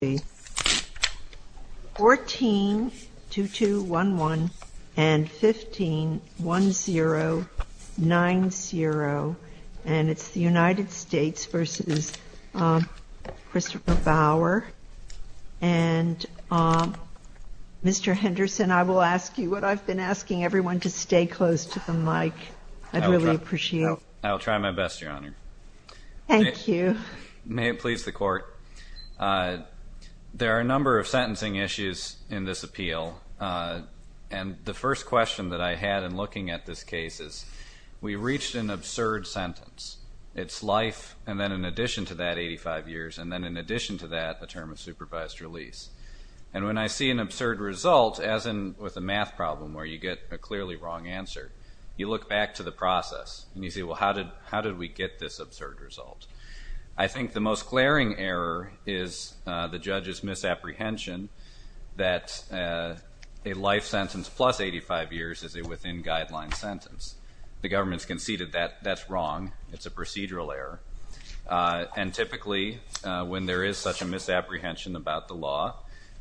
I will ask you what I have been asking everyone to stay close to the mic. I'd really appreciate it. I will try my best, Your Honor. Thank you. May it please the Court. There are a number of sentencing issues in this appeal, and the first question that I had in looking at this case is, we reached an absurd sentence. It's life and then in addition to that, 85 years, and then in addition to that, a term of supervised release. And when I see an absurd result, as in with a math problem where you get a clearly wrong answer, you look back to the process and you say, well, how did we get this absurd result? I think the most glaring error is the judge's misapprehension that a life sentence plus 85 years is a within guideline sentence. The government has conceded that that's wrong. It's a procedural error. And typically, when there is such a misapprehension about the law,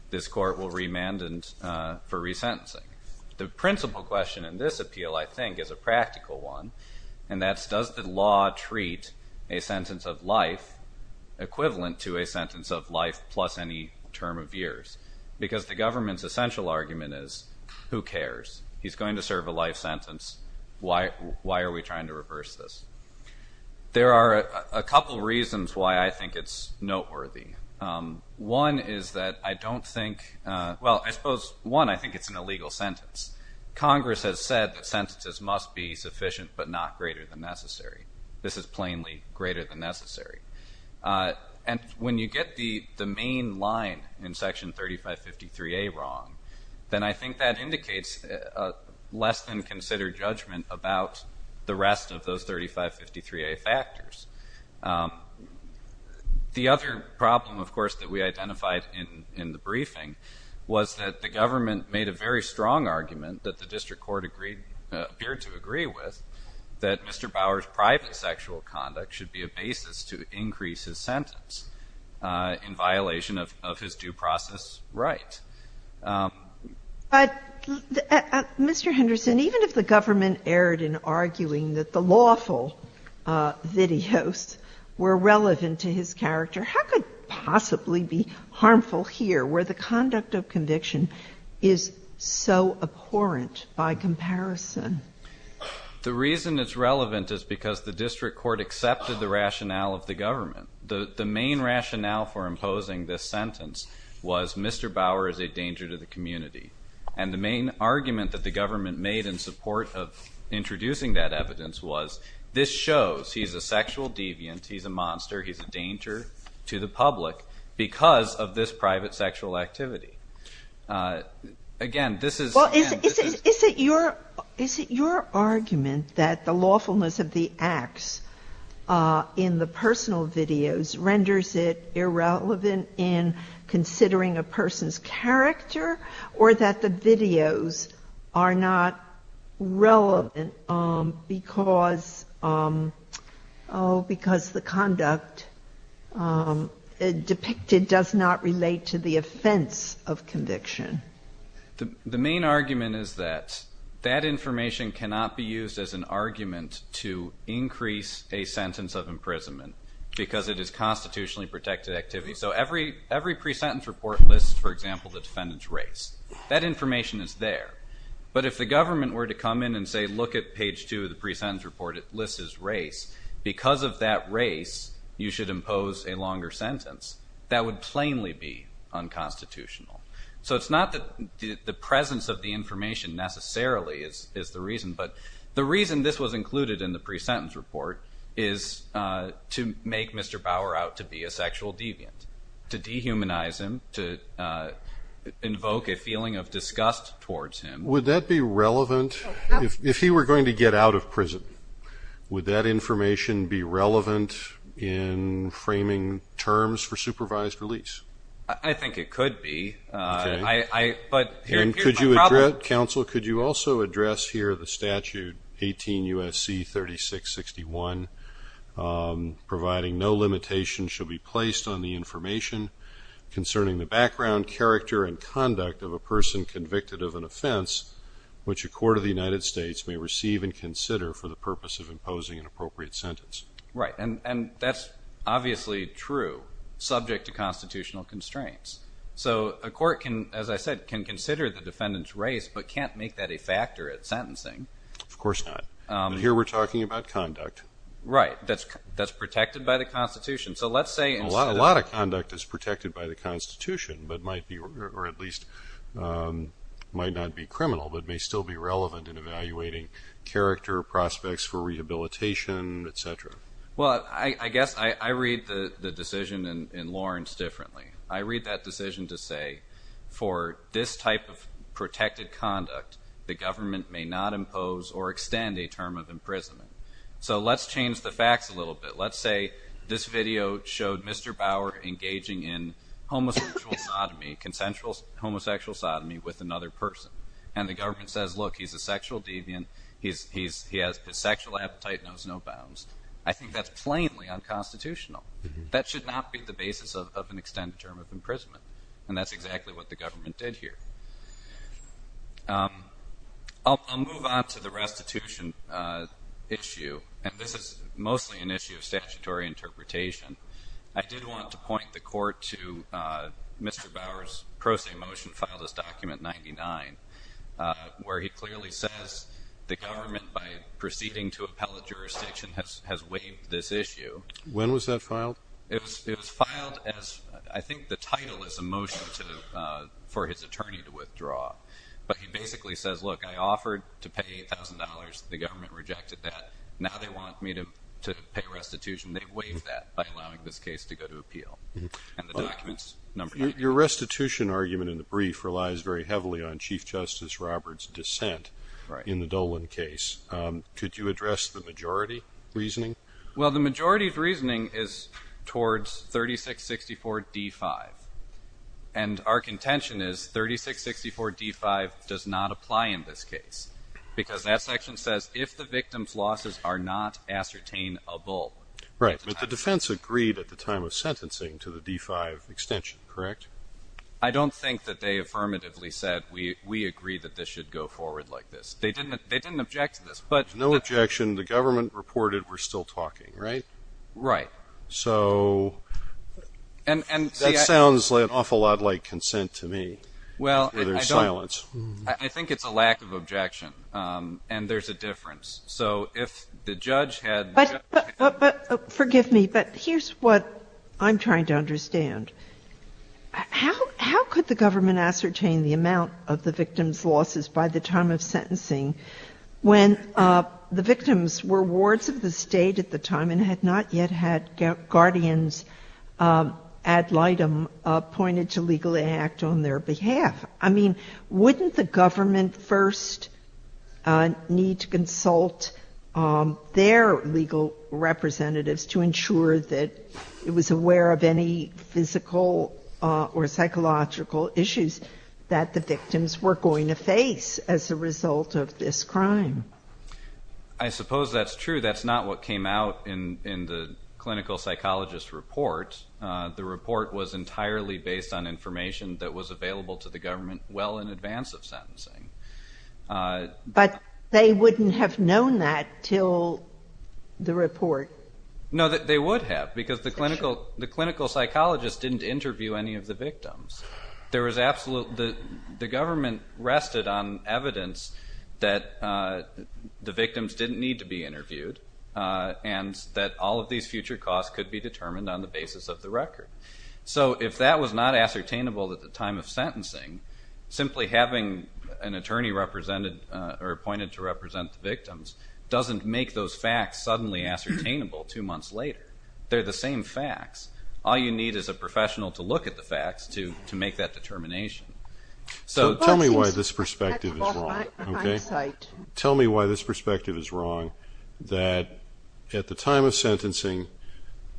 this Court will remand for resentencing. The principal question in this case is, can we meet a sentence of life equivalent to a sentence of life plus any term of years? Because the government's essential argument is, who cares? He's going to serve a life sentence. Why are we trying to reverse this? There are a couple reasons why I think it's noteworthy. One is that I don't think, well, I suppose, one, I think it's an illegal sentence. Congress has said that sentences must be sufficient but not greater than necessary. This is plain and plainly greater than necessary. And when you get the main line in Section 3553A wrong, then I think that indicates less than considered judgment about the rest of those 3553A factors. The other problem, of course, that we identified in the briefing was that the government made a very strong argument that the District Court appeared to agree with, that Mr. Bower's private sexual conduct should be a basis to increase his sentence in violation of his due process right. But, Mr. Henderson, even if the government erred in arguing that the lawful videos were relevant to his character, how could it possibly be harmful here, where the conduct of conviction is so abhorrent by comparison? The reason it's relevant is because the District Court accepted the rationale of the government. The main rationale for imposing this sentence was Mr. Bower is a danger to the community. And the main argument that the government made in support of introducing that evidence was this shows he's a sexual deviant, he's a monster, he's a danger to the public because of this private sexual activity. Again, this is... Is it your argument that the lawfulness of the acts in the personal videos renders it irrelevant in considering a person's character or that the videos are not relevant because the conduct depicted does not relate to the offense of conviction? The main argument is that that information cannot be used as an argument to increase a sentence of imprisonment because it is constitutionally protected activity. So every pre-sentence report lists, for example, the defendant's race. That information is there. But if the government were to come in and say, look at page two of the pre-sentence report, it lists his race. Because of that race, you should impose a longer sentence. That would plainly be unconstitutional. So it's not that the presence of the information necessarily is the reason, but the reason this was included in the pre-sentence report is to make Mr. Bauer out to be a sexual deviant, to dehumanize him, to invoke a feeling of disgust towards him. Would that be relevant? If he were going to get out of prison, would that information be relevant in framing terms for supervised release? I think it could be. But here appears my problem. And could you address, counsel, could you also address here the statute, 18 U.S.C. 3661, providing no limitation shall be placed on the information concerning the background character and conduct of a person convicted of an offense which a court of the United States may receive and consider for the purpose of imposing an appropriate sentence? Right. And that's obviously true, subject to constitutional constraints. So a court can, as I said, can consider the defendant's race, but can't make that a factor at sentencing. Of course not. And here we're talking about conduct. Right. That's protected by the Constitution. So let's say... A lot of conduct is protected by the Constitution, or at least might not be criminal, but may still be relevant in evaluating character prospects for rehabilitation, et cetera. Well, I guess I read the decision in Lawrence differently. I read that decision to say, for this type of protected conduct, the government may not impose or extend a term of imprisonment. So let's change the facts a little bit. Let's say this video showed Mr. Bauer engaging in homosexual sodomy, consensual homosexual sodomy with another person. And the government says, look, he's a sexual deviant. He has his sexual appetite, knows no bounds. I think that's plainly unconstitutional. That should not be the basis of an extended term of imprisonment. And that's exactly what the government did here. I'll move on to the restitution issue, and this is mostly an issue of statutory interpretation. I did want to point the court to Mr. Bauer's pro se motion filed as document 99, where he clearly says, the government, by proceeding to appellate jurisdiction, has waived this issue. When was that filed? It was filed as, I think the title is a motion for his attorney to withdraw. But he basically says, look, I offered to pay $8,000. The government rejected that. Now they want me to pay restitution. They waived that by allowing this case to go to appeal. And the document's number 99. Your restitution argument in the brief relies very heavily on Chief Justice Roberts' dissent in the Dolan case. Could you address the majority reasoning? Well, the majority reasoning is towards 3664 D-5. And our contention is 3664 D-5 does not apply in this case. Because that section says, if the victim's losses are not ascertainable. Right. But the defense agreed at the time of sentencing to the D-5 extension, correct? I don't think that they affirmatively said, we agree that this should go forward like this. They didn't object to this. But... No objection. The government reported we're still talking, right? Right. So... That sounds an awful lot like consent to me, in their silence. I think it's a lack of objection. And there's a difference. So if the judge had... But, forgive me, but here's what I'm trying to understand. How could the government ascertain the amount of the victim's losses by the time of sentencing when the victims were wards of the state at the time and had not yet had guardians ad litem appointed to legally act on their behalf? I mean, wouldn't the government first need to consult their legal representatives to ensure that it was aware of any physical or psychological issues that the victims were going to face as a result of this crime? I suppose that's true. That's not what came out in the clinical psychologist report. The report was entirely based on information that was available to the government well in advance of sentencing. But they wouldn't have known that till the report. No, they would have because the clinical psychologist didn't interview any of the victims. There was absolute... The government rested on evidence that the victims didn't need to be interviewed and that all of these future costs could be determined on the basis of the record. So if that was not ascertainable at the time of sentencing, simply having an attorney appointed to represent the victims doesn't make those facts suddenly ascertainable two months later. They're the same facts. All you need is a professional to look at the facts to make that determination. So tell me why this perspective is wrong. Okay. Tell me why this perspective is wrong, that at the time of sentencing,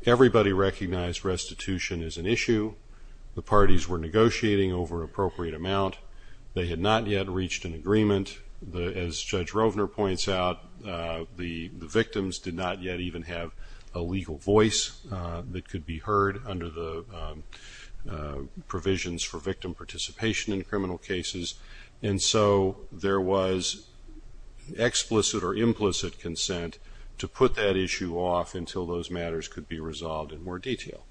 everybody recognized restitution as an issue. The parties were negotiating over an appropriate amount. They had not yet reached an agreement. As Judge Rovner points out, the victims did not yet even have a legal voice that could be heard under the provisions for victim participation in criminal cases. And so there was explicit or implicit consent to put that issue off until those matters could be resolved in more detail.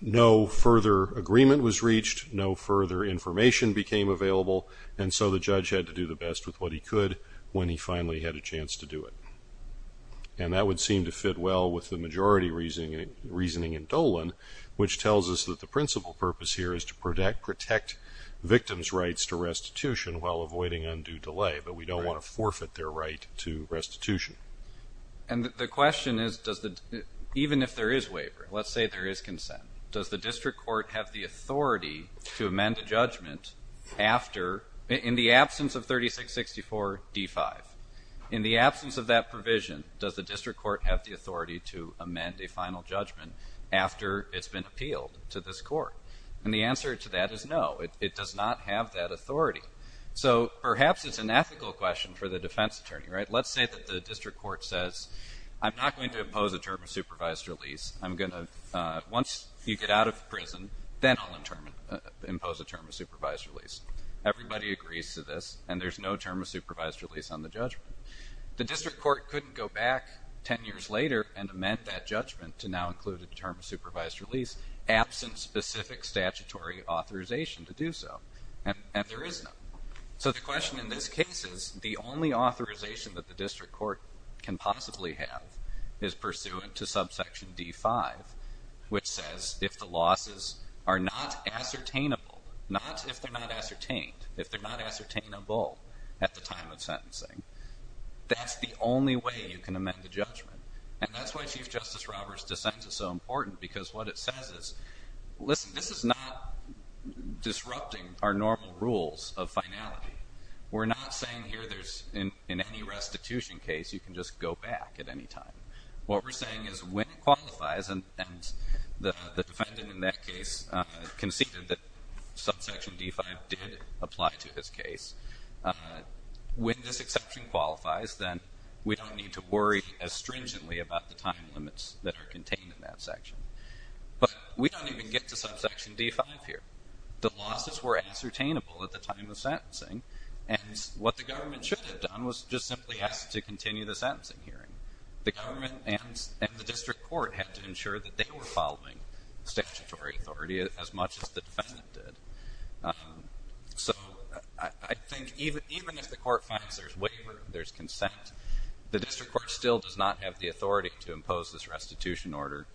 No further agreement was reached. No further information became available. And so the judge had to do the best with what he could when he finally had a chance to do it. And that would seem to fit well with the majority reasoning in Dolan, which tells us that the courts protect victims' rights to restitution while avoiding undue delay, but we don't want to forfeit their right to restitution. And the question is, even if there is waiver, let's say there is consent, does the district court have the authority to amend a judgment after, in the absence of 3664 D5, in the absence of that provision, does the district court have the authority to amend a final judgment after it's been appealed to this court? And the answer to that is no, it does not have that authority. So perhaps it's an ethical question for the defense attorney, right? Let's say that the district court says, I'm not going to impose a term of supervised release. I'm going to, once you get out of prison, then I'll impose a term of supervised release. Everybody agrees to this, and there's no term of supervised release on the judgment. The district court couldn't go back 10 years later and amend that judgment to now include the term of supervised release, absent specific statutory authorization to do so. And there is no. So the question in this case is, the only authorization that the district court can possibly have is pursuant to subsection D5, which says if the losses are not ascertainable, not if they're not ascertained, if they're not ascertainable at the time of sentencing, that's the only way you can amend the judgment. And that's why Chief Justice Robert's dissent is so important, because what it says is, listen, this is not disrupting our normal rules of finality. We're not saying here there's, in any restitution case, you can just go back at any time. What we're saying is when it qualifies, and the defendant in that case conceded that subsection D5 did apply to his case, when this exception qualifies, then we don't need to worry as stringently about the time limits that are contained in that section. But we don't even get to subsection D5 here. The losses were ascertainable at the time of sentencing, and what the government should have done was just simply asked to continue the sentencing hearing. The government and the district court had to ensure that they were following statutory authority as much as the defendant did. So I think even if the court finds there's waiver, there's consent, the district court still does not have the authority to impose this restitution order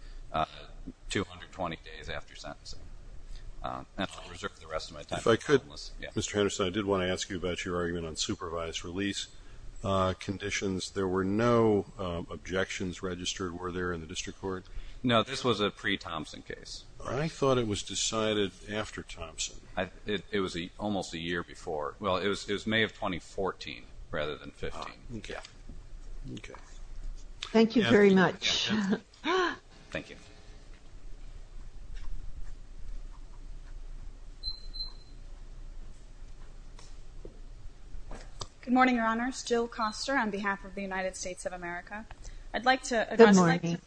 220 days after sentencing. And I'll reserve the rest of my time for the witnesses. If I could, Mr. Henderson, I did want to ask you about your argument on supervised release conditions. There were no objections registered, were there, in the district court? No, this was a pre-Thompson case. I thought it was decided after Thompson. It was almost a year before. Well, it was May of 2014, rather than 15. OK. Thank you very much. Thank you. Good morning, Your Honors. Jill Koster on behalf of the United States of America. I'd like to address the- Good morning.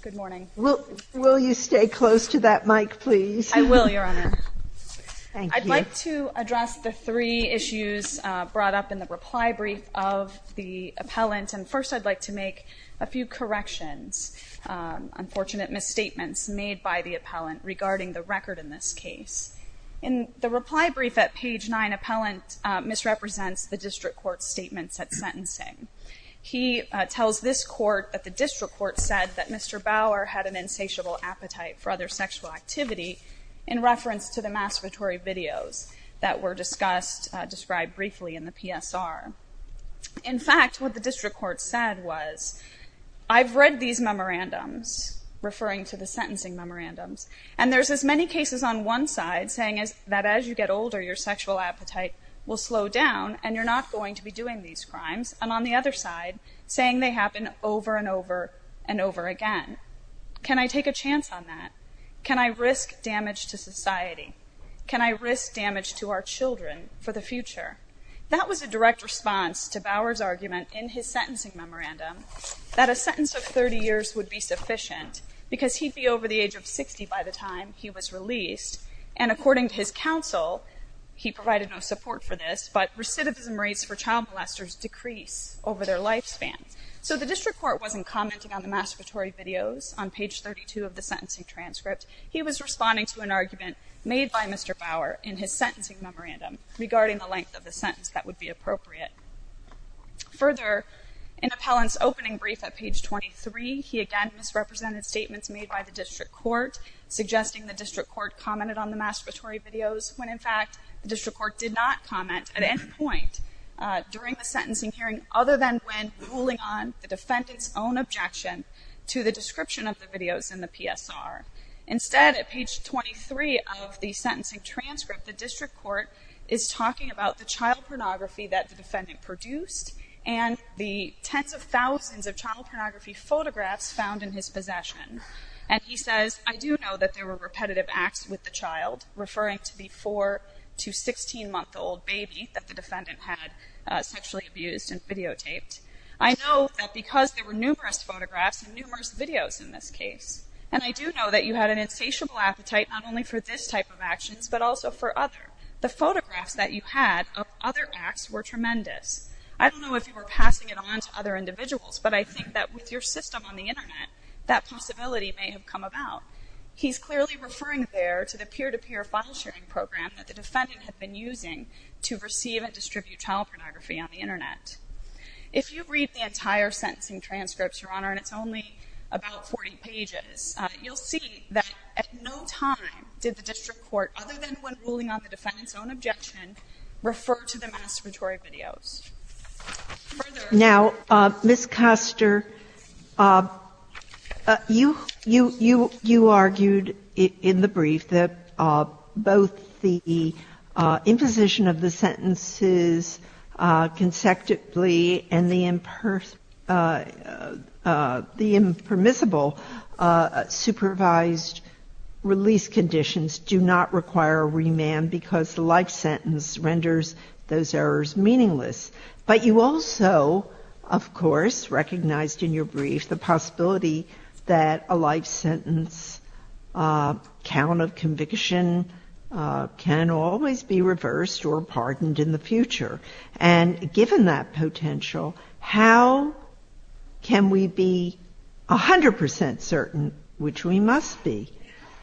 Good morning. Will you stay close to that mic, please? I will, Your Honor. Thank you. I'd like to address the three issues brought up in the reply brief of the appellant. And first, I'd like to make a few corrections, unfortunate misstatements made by the appellant regarding the record in this case. In the reply brief at page nine, appellant misrepresents the district court's statements at sentencing. He tells this court that the district court said that Mr. Bauer had an insatiable appetite for other sexual activity in reference to the masturbatory videos that were discussed, described briefly in the PSR. In fact, what the district court said was, I've read these memorandums, referring to the sentencing memorandums, and there's as many cases on one side saying that as you get older, your sexual appetite will slow down and you're not going to be doing these crimes, and on the other side, saying they happen over and over and over again. Can I take a chance on that? Can I risk damage to society? Can I risk damage to our children for the future? That was a direct response to Bauer's argument in his sentencing memorandum that a sentence of 30 years would be sufficient because he'd be over the age of 60 by the time he was released. And according to his counsel, he provided no support for this, but recidivism rates for child molesters decrease over their lifespan. So the district court wasn't commenting on the masturbatory videos on page 32 of the sentencing transcript. He was responding to an argument made by Mr. Bauer in his sentencing memorandum regarding the length of the sentence that would be appropriate. Further, in Appellant's opening brief at page 23, he again misrepresented statements made by the district court, suggesting the district court commented on the masturbatory videos when, in fact, the district court did not comment at any point during the sentencing hearing other than when ruling on the defendant's own objection to the description of the videos in the PSR. Instead, at page 23 of the sentencing transcript, the district court is talking about the child pornography that the defendant produced and the tens of thousands of child pornography photographs found in his possession. And he says, I do know that there were repetitive acts with the child, referring to the 4- to I know that because there were numerous photographs and numerous videos in this case, and I do know that you had an insatiable appetite not only for this type of actions, but also for other. The photographs that you had of other acts were tremendous. I don't know if you were passing it on to other individuals, but I think that with your system on the Internet, that possibility may have come about. He's clearly referring there to the peer-to-peer file sharing program that the defendant had been using to receive and distribute child pornography on the Internet. If you read the entire sentencing transcripts, Your Honor, and it's only about 40 pages, you'll see that at no time did the district court, other than when ruling on the defendant's own objection, refer to the masturbatory videos. Now, Ms. Custer, you argued in the brief that both the imposition of the sentences consecutively and the impermissible supervised release conditions do not require a remand because the life sentence renders those errors meaningless. But you also, of course, recognized in your brief the possibility that a life sentence count of conviction can always be reversed or pardoned in the future. And given that potential, how can we be 100% certain, which we must be,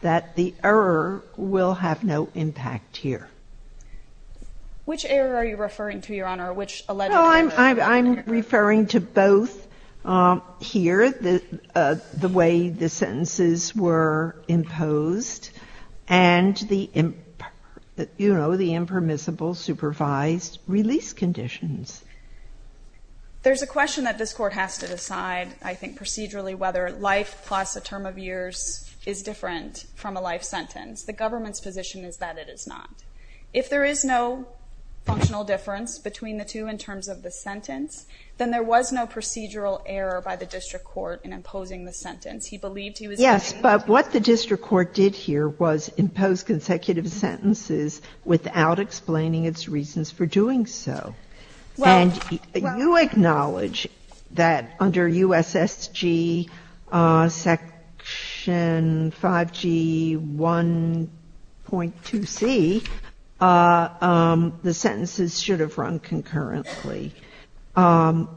that the error will have no impact here? Which error are you referring to, Your Honor? Which alleged error? Well, I'm referring to both here, the way the sentences were imposed and the, you know, the impermissible supervised release conditions. There's a question that this Court has to decide, I think, procedurally, whether life plus a term of years is different from a life sentence. The government's position is that it is not. If there is no functional difference between the two in terms of the sentence, then there was no procedural error by the district court in imposing the sentence. He believed he was doing it. Yes, but what the district court did here was impose consecutive sentences without explaining its reasons for doing so. And you acknowledge that under USSG Section 5G1.2C, the sentences should have run concurrently. And,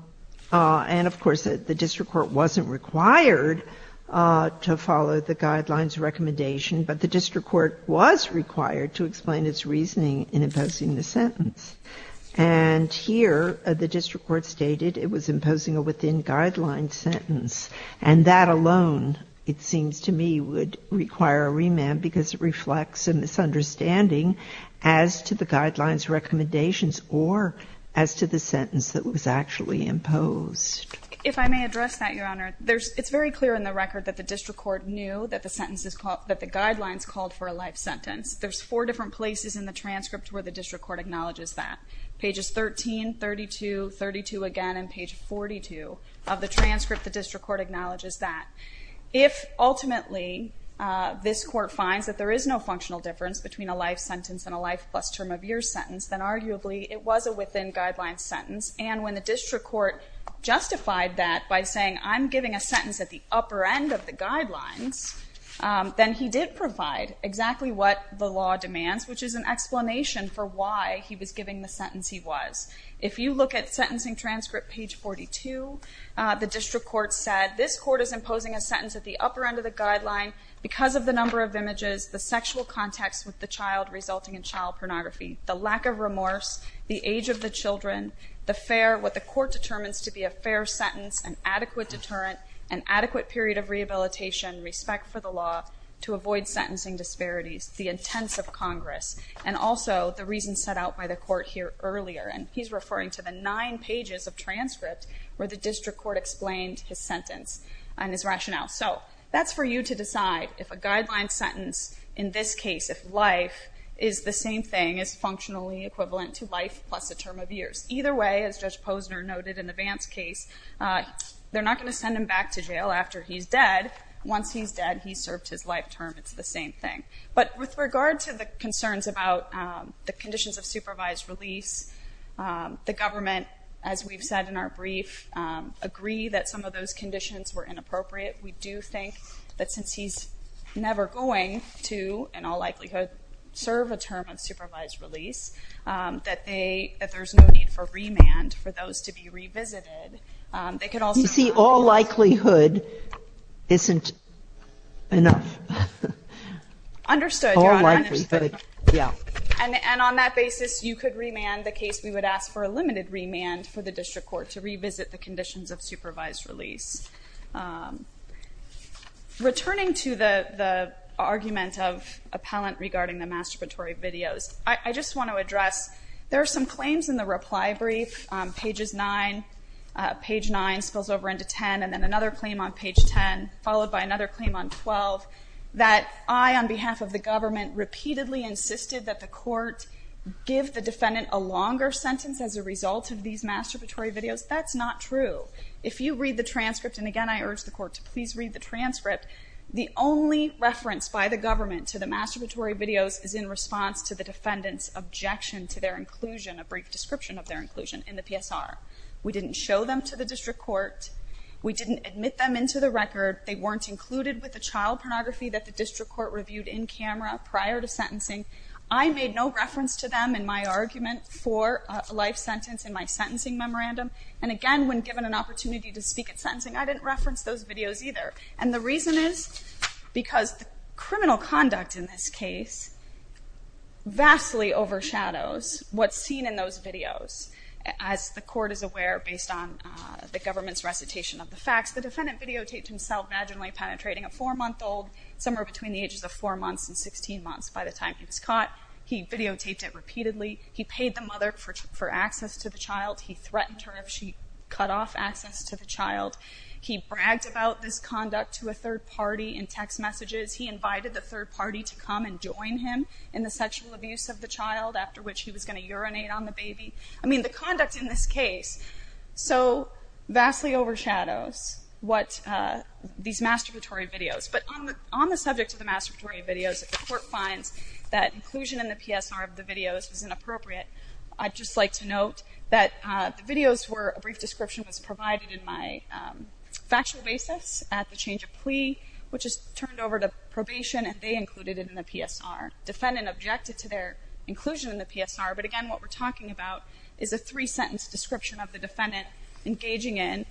of course, the district court wasn't required to follow the guidelines recommendation, but the district court was required to explain its reasoning in this case. And here, the district court stated it was imposing a within-guidelines sentence. And that alone, it seems to me, would require a remand because it reflects a misunderstanding as to the guidelines recommendations or as to the sentence that was actually imposed. If I may address that, Your Honor, it's very clear in the record that the district court knew that the guidelines called for a life sentence. There's four different places in the transcript where the district court acknowledges that. Pages 13, 32, 32 again, and page 42 of the transcript, the district court acknowledges that. If, ultimately, this court finds that there is no functional difference between a life sentence and a life plus term of year sentence, then arguably it was a within-guidelines sentence. And when the district court justified that by saying, I'm giving a sentence at the upper end of the guidelines, then he did provide exactly what the law demands, which is an explanation for why he was giving the sentence he was. If you look at sentencing transcript page 42, the district court said, this court is imposing a sentence at the upper end of the guideline because of the number of images, the sexual context with the child resulting in child pornography, the lack of remorse, the age of the children, the fair, what the adequate period of rehabilitation, respect for the law to avoid sentencing disparities, the intents of Congress, and also the reason set out by the court here earlier. And he's referring to the nine pages of transcript where the district court explained his sentence and his rationale. So that's for you to decide if a guideline sentence in this case, if life is the same thing as functionally equivalent to life plus a term of years. Either way, as Judge Posner noted in the Vance case, they're not going to send him back to jail after he's dead. Once he's dead, he's served his life term. It's the same thing. But with regard to the concerns about the conditions of supervised release, the government, as we've said in our brief, agree that some of those conditions were inappropriate. We do think that since he's never going to, in all likelihood, serve a term of supervised release, that there's no need for remand for those to be revisited. You see, all likelihood isn't enough. Understood. And on that basis, you could remand the case. We would ask for a limited remand for the district court to revisit the conditions of supervised release. Returning to the argument of appellant regarding the masturbatory videos, I just want to address there are some claims in the reply brief. Pages 9, page 9 spills over into 10, and then another claim on page 10, followed by another claim on 12, that I, on behalf of the government, repeatedly insisted that the court give the defendant a longer sentence as a result of these masturbatory videos. That's not true. If you read the transcript, and again, I urge the court to please read the transcript, the only reference by the government to the masturbatory videos is in response to the defendant's objection to their inclusion, a brief description of their inclusion in the PSR. We didn't show them to the district court. We didn't admit them into the record. They weren't included with the child pornography that the district court reviewed in camera prior to sentencing. I made no reference to them in my argument for a life sentence in my sentencing memorandum. And again, when given an opportunity to speak at sentencing, I didn't reference those videos either. And the reason is because the criminal conduct in this case vastly overshadows what's seen in those videos. As the court is aware, based on the government's recitation of the facts, the defendant videotaped himself vaginally penetrating a four-month-old, somewhere between the ages of four months and 16 months by the time he was caught. He videotaped it repeatedly. He paid the mother for access to the child. He threatened her if she cut off access to the child. He bragged about this conduct to a third party in text messages. He invited the third party to come and join him in the sexual abuse of the child, after which he was going to urinate on the baby. I mean, the conduct in this case so vastly overshadows what these masturbatory videos. But on the subject of the masturbatory videos, if the court finds that inclusion in the PSR of the videos is inappropriate, I'd just like to note that the videos were a brief description was provided in my factual basis at the time of the change of plea, which is turned over to probation, and they included it in the PSR. Defendant objected to their inclusion in the PSR, but again, what we're talking about is a three-sentence description of the defendant engaging in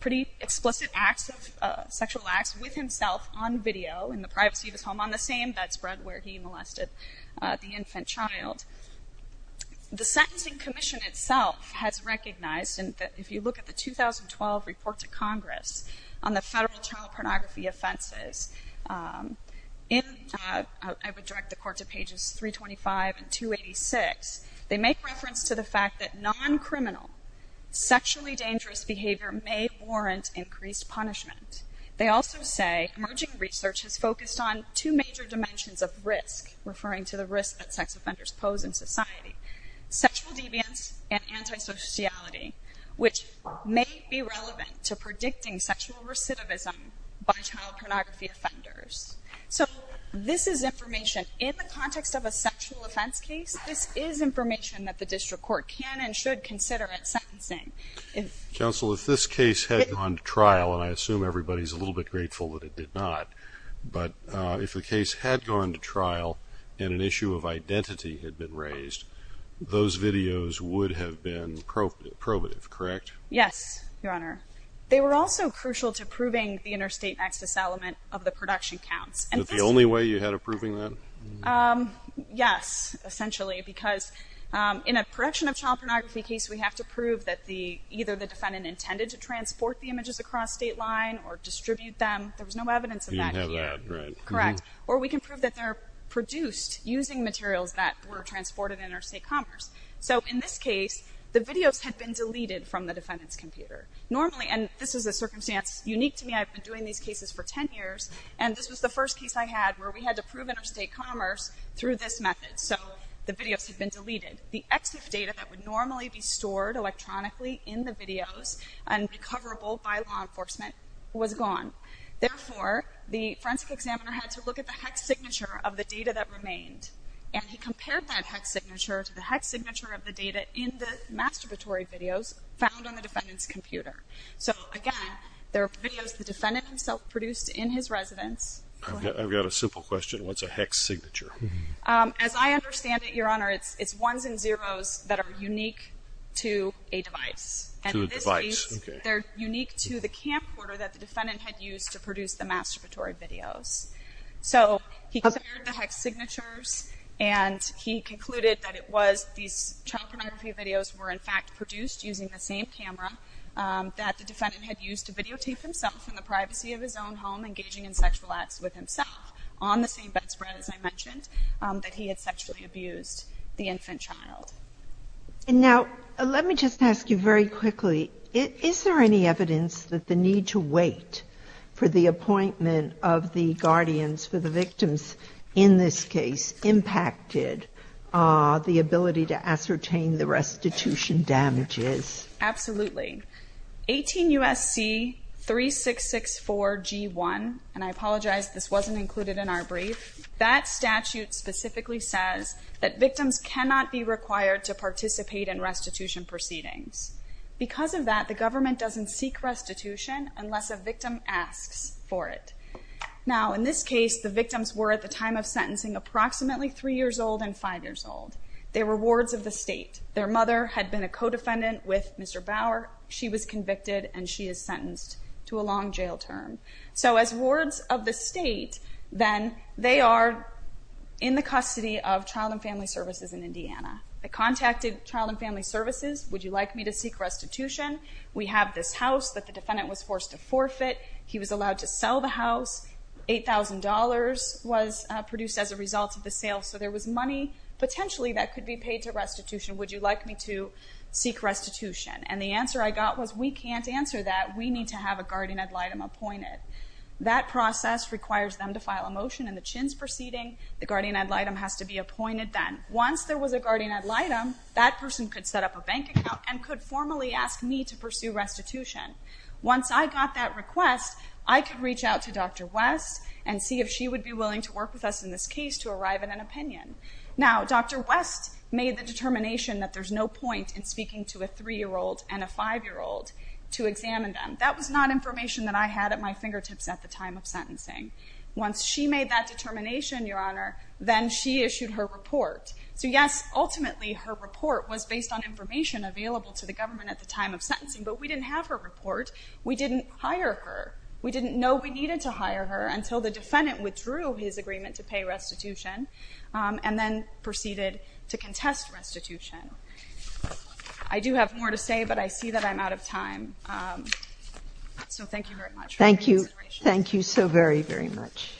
pretty explicit acts of sexual acts with himself on video in the privacy of his home on the same bedspread where he molested the infant child. The Sentencing Commission itself has recognized, and if you look at the 2012 report to Congress on the federal child pornography offenses, I would direct the court to pages 325 and 286. They make reference to the fact that non-criminal, sexually dangerous behavior may warrant increased punishment. They also say emerging research has focused on two major dimensions of risk, referring to the risk that sex offenders pose in society, sexual deviance and to predicting sexual recidivism by child pornography offenders. So this is information in the context of a sexual offense case. This is information that the district court can and should consider at sentencing. Counsel, if this case had gone to trial, and I assume everybody's a little bit grateful that it did not, but if the case had gone to trial and an issue of identity had been raised, those videos would have been probative, correct? Yes, Your Honor. They were also crucial to proving the interstate access element of the production counts. Is that the only way you had of proving that? Yes, essentially, because in a production of child pornography case, we have to prove that either the defendant intended to transport the images across state line or distribute them. There was no evidence of that here. You didn't have that, right. Correct. Or we can prove that they're produced using materials that were transported interstate commerce. So in this case, the videos had been deleted from the defendant's computer. Normally, and this is a circumstance unique to me, I've been doing these cases for 10 years, and this was the first case I had where we had to prove interstate commerce through this method. So the videos had been deleted. The EXIF data that would normally be stored electronically in the videos and recoverable by law enforcement was gone. Therefore, the forensic examiner had to look at the hex signature of the data that remained, and he compared that hex signature to the hex signature of the data in the masturbatory videos found on the defendant's computer. So, again, there are videos the defendant himself produced in his residence. I've got a simple question. What's a hex signature? As I understand it, Your Honor, it's ones and zeros that are unique to a device. To a device, okay. And in this case, they're unique to the camcorder that the defendant had used to produce the masturbatory videos. So he compared the hex signatures, and he concluded that it was these child pornography videos were, in fact, produced using the same camera that the defendant had used to videotape himself in the privacy of his own home engaging in sexual acts with himself on the same bedspread, as I mentioned, that he had sexually abused the infant child. Now, let me just ask you very quickly, is there any evidence that the need to guardians for the victims in this case impacted the ability to ascertain the restitution damages? Absolutely. 18 U.S.C. 3664 G1, and I apologize, this wasn't included in our brief, that statute specifically says that victims cannot be required to participate in restitution proceedings. Because of that, the government doesn't seek restitution unless a victim asks for it. Now, in this case, the victims were at the time of sentencing approximately three years old and five years old. They were wards of the state. Their mother had been a co-defendant with Mr. Bauer. She was convicted, and she is sentenced to a long jail term. So as wards of the state, then, they are in the custody of Child and Family Services in Indiana. They contacted Child and Family Services, would you like me to seek restitution? We have this house that the defendant was forced to forfeit. He was allowed to sell the house. $8,000 was produced as a result of the sale, so there was money potentially that could be paid to restitution. Would you like me to seek restitution? And the answer I got was, we can't answer that. We need to have a guardian ad litem appointed. That process requires them to file a motion in the Chins proceeding. The guardian ad litem has to be appointed then. Once there was a guardian ad litem, that person could set up a bank account and could formally ask me to pursue restitution. Once I got that request, I could reach out to Dr. West and see if she would be willing to work with us in this case to arrive at an opinion. Now, Dr. West made the determination that there's no point in speaking to a three-year-old and a five-year-old to examine them. That was not information that I had at my fingertips at the time of sentencing. Once she made that determination, Your Honor, then she issued her report. So yes, ultimately, her report was based on information available to the court. We didn't hire her. We didn't know we needed to hire her until the defendant withdrew his agreement to pay restitution and then proceeded to contest restitution. I do have more to say, but I see that I'm out of time. So thank you very much for your consideration. Thank you. Thank you so very, very much.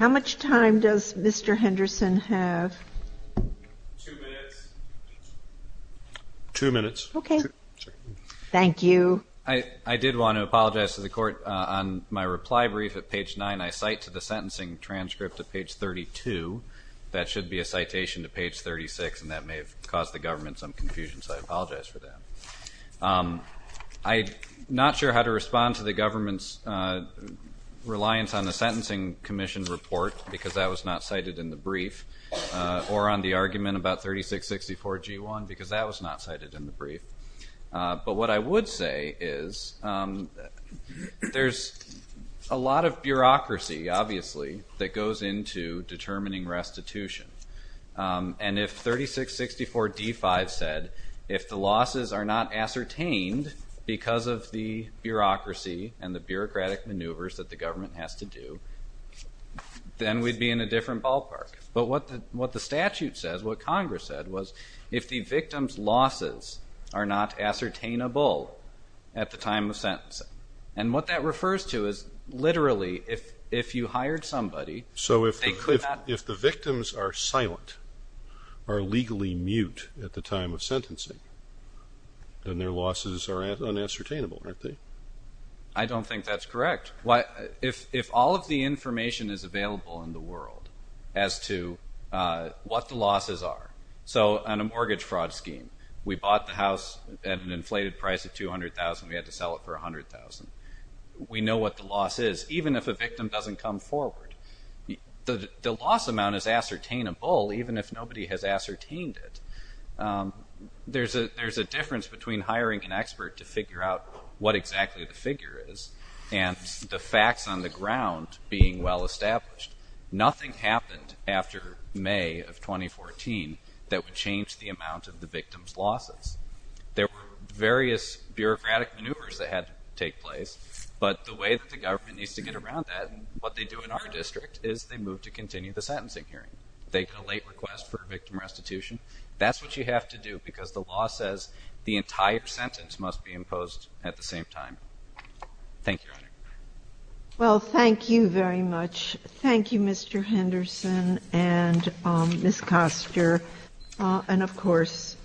How much time does Mr. Henderson have? Two minutes. Two minutes. Okay. Thank you. I did want to apologize to the court. On my reply brief at page 9, I cite to the sentencing transcript at page 32, that should be a citation to page 36, and that may have caused the government some confusion, so I apologize for that. I'm not sure how to respond to the government's reliance on the Sentencing Commission report, because that was not cited in the brief, or on the argument about 3664G1, because that was not cited in the brief. But what I would say is there's a lot of bureaucracy, obviously, that goes into determining restitution. And if 3664D5 said, if the losses are not ascertained because of the bureaucracy and the bureaucratic maneuvers that the government has to do, then we'd be in a different ballpark. But what the statute says, what Congress said, was if the victim's losses are not ascertainable at the time of sentencing, and what that refers to is literally if you hired somebody, they could not. So if the victims are silent, are legally mute at the time of sentencing, then their losses are unascertainable, aren't they? I don't think that's correct. If all of the information is available in the world as to what the losses are, so on a mortgage fraud scheme, we bought the house at an inflated price of $200,000, we had to sell it for $100,000. We know what the loss is, even if a victim doesn't come forward. The loss amount is ascertainable, even if nobody has ascertained it. There's a difference between hiring an expert to figure out what exactly the figure is and the facts on the ground being well established. Nothing happened after May of 2014 that would change the amount of the victim's losses. There were various bureaucratic maneuvers that had to take place, but the way that the government needs to get around that and what they do in our district is they move to continue the sentencing hearing. They make a late request for victim restitution. That's what you have to do because the law says the entire sentence must be imposed at the same time. Thank you, Your Honor. Well, thank you very much. Thank you, Mr. Henderson and Ms. Koster. And of course...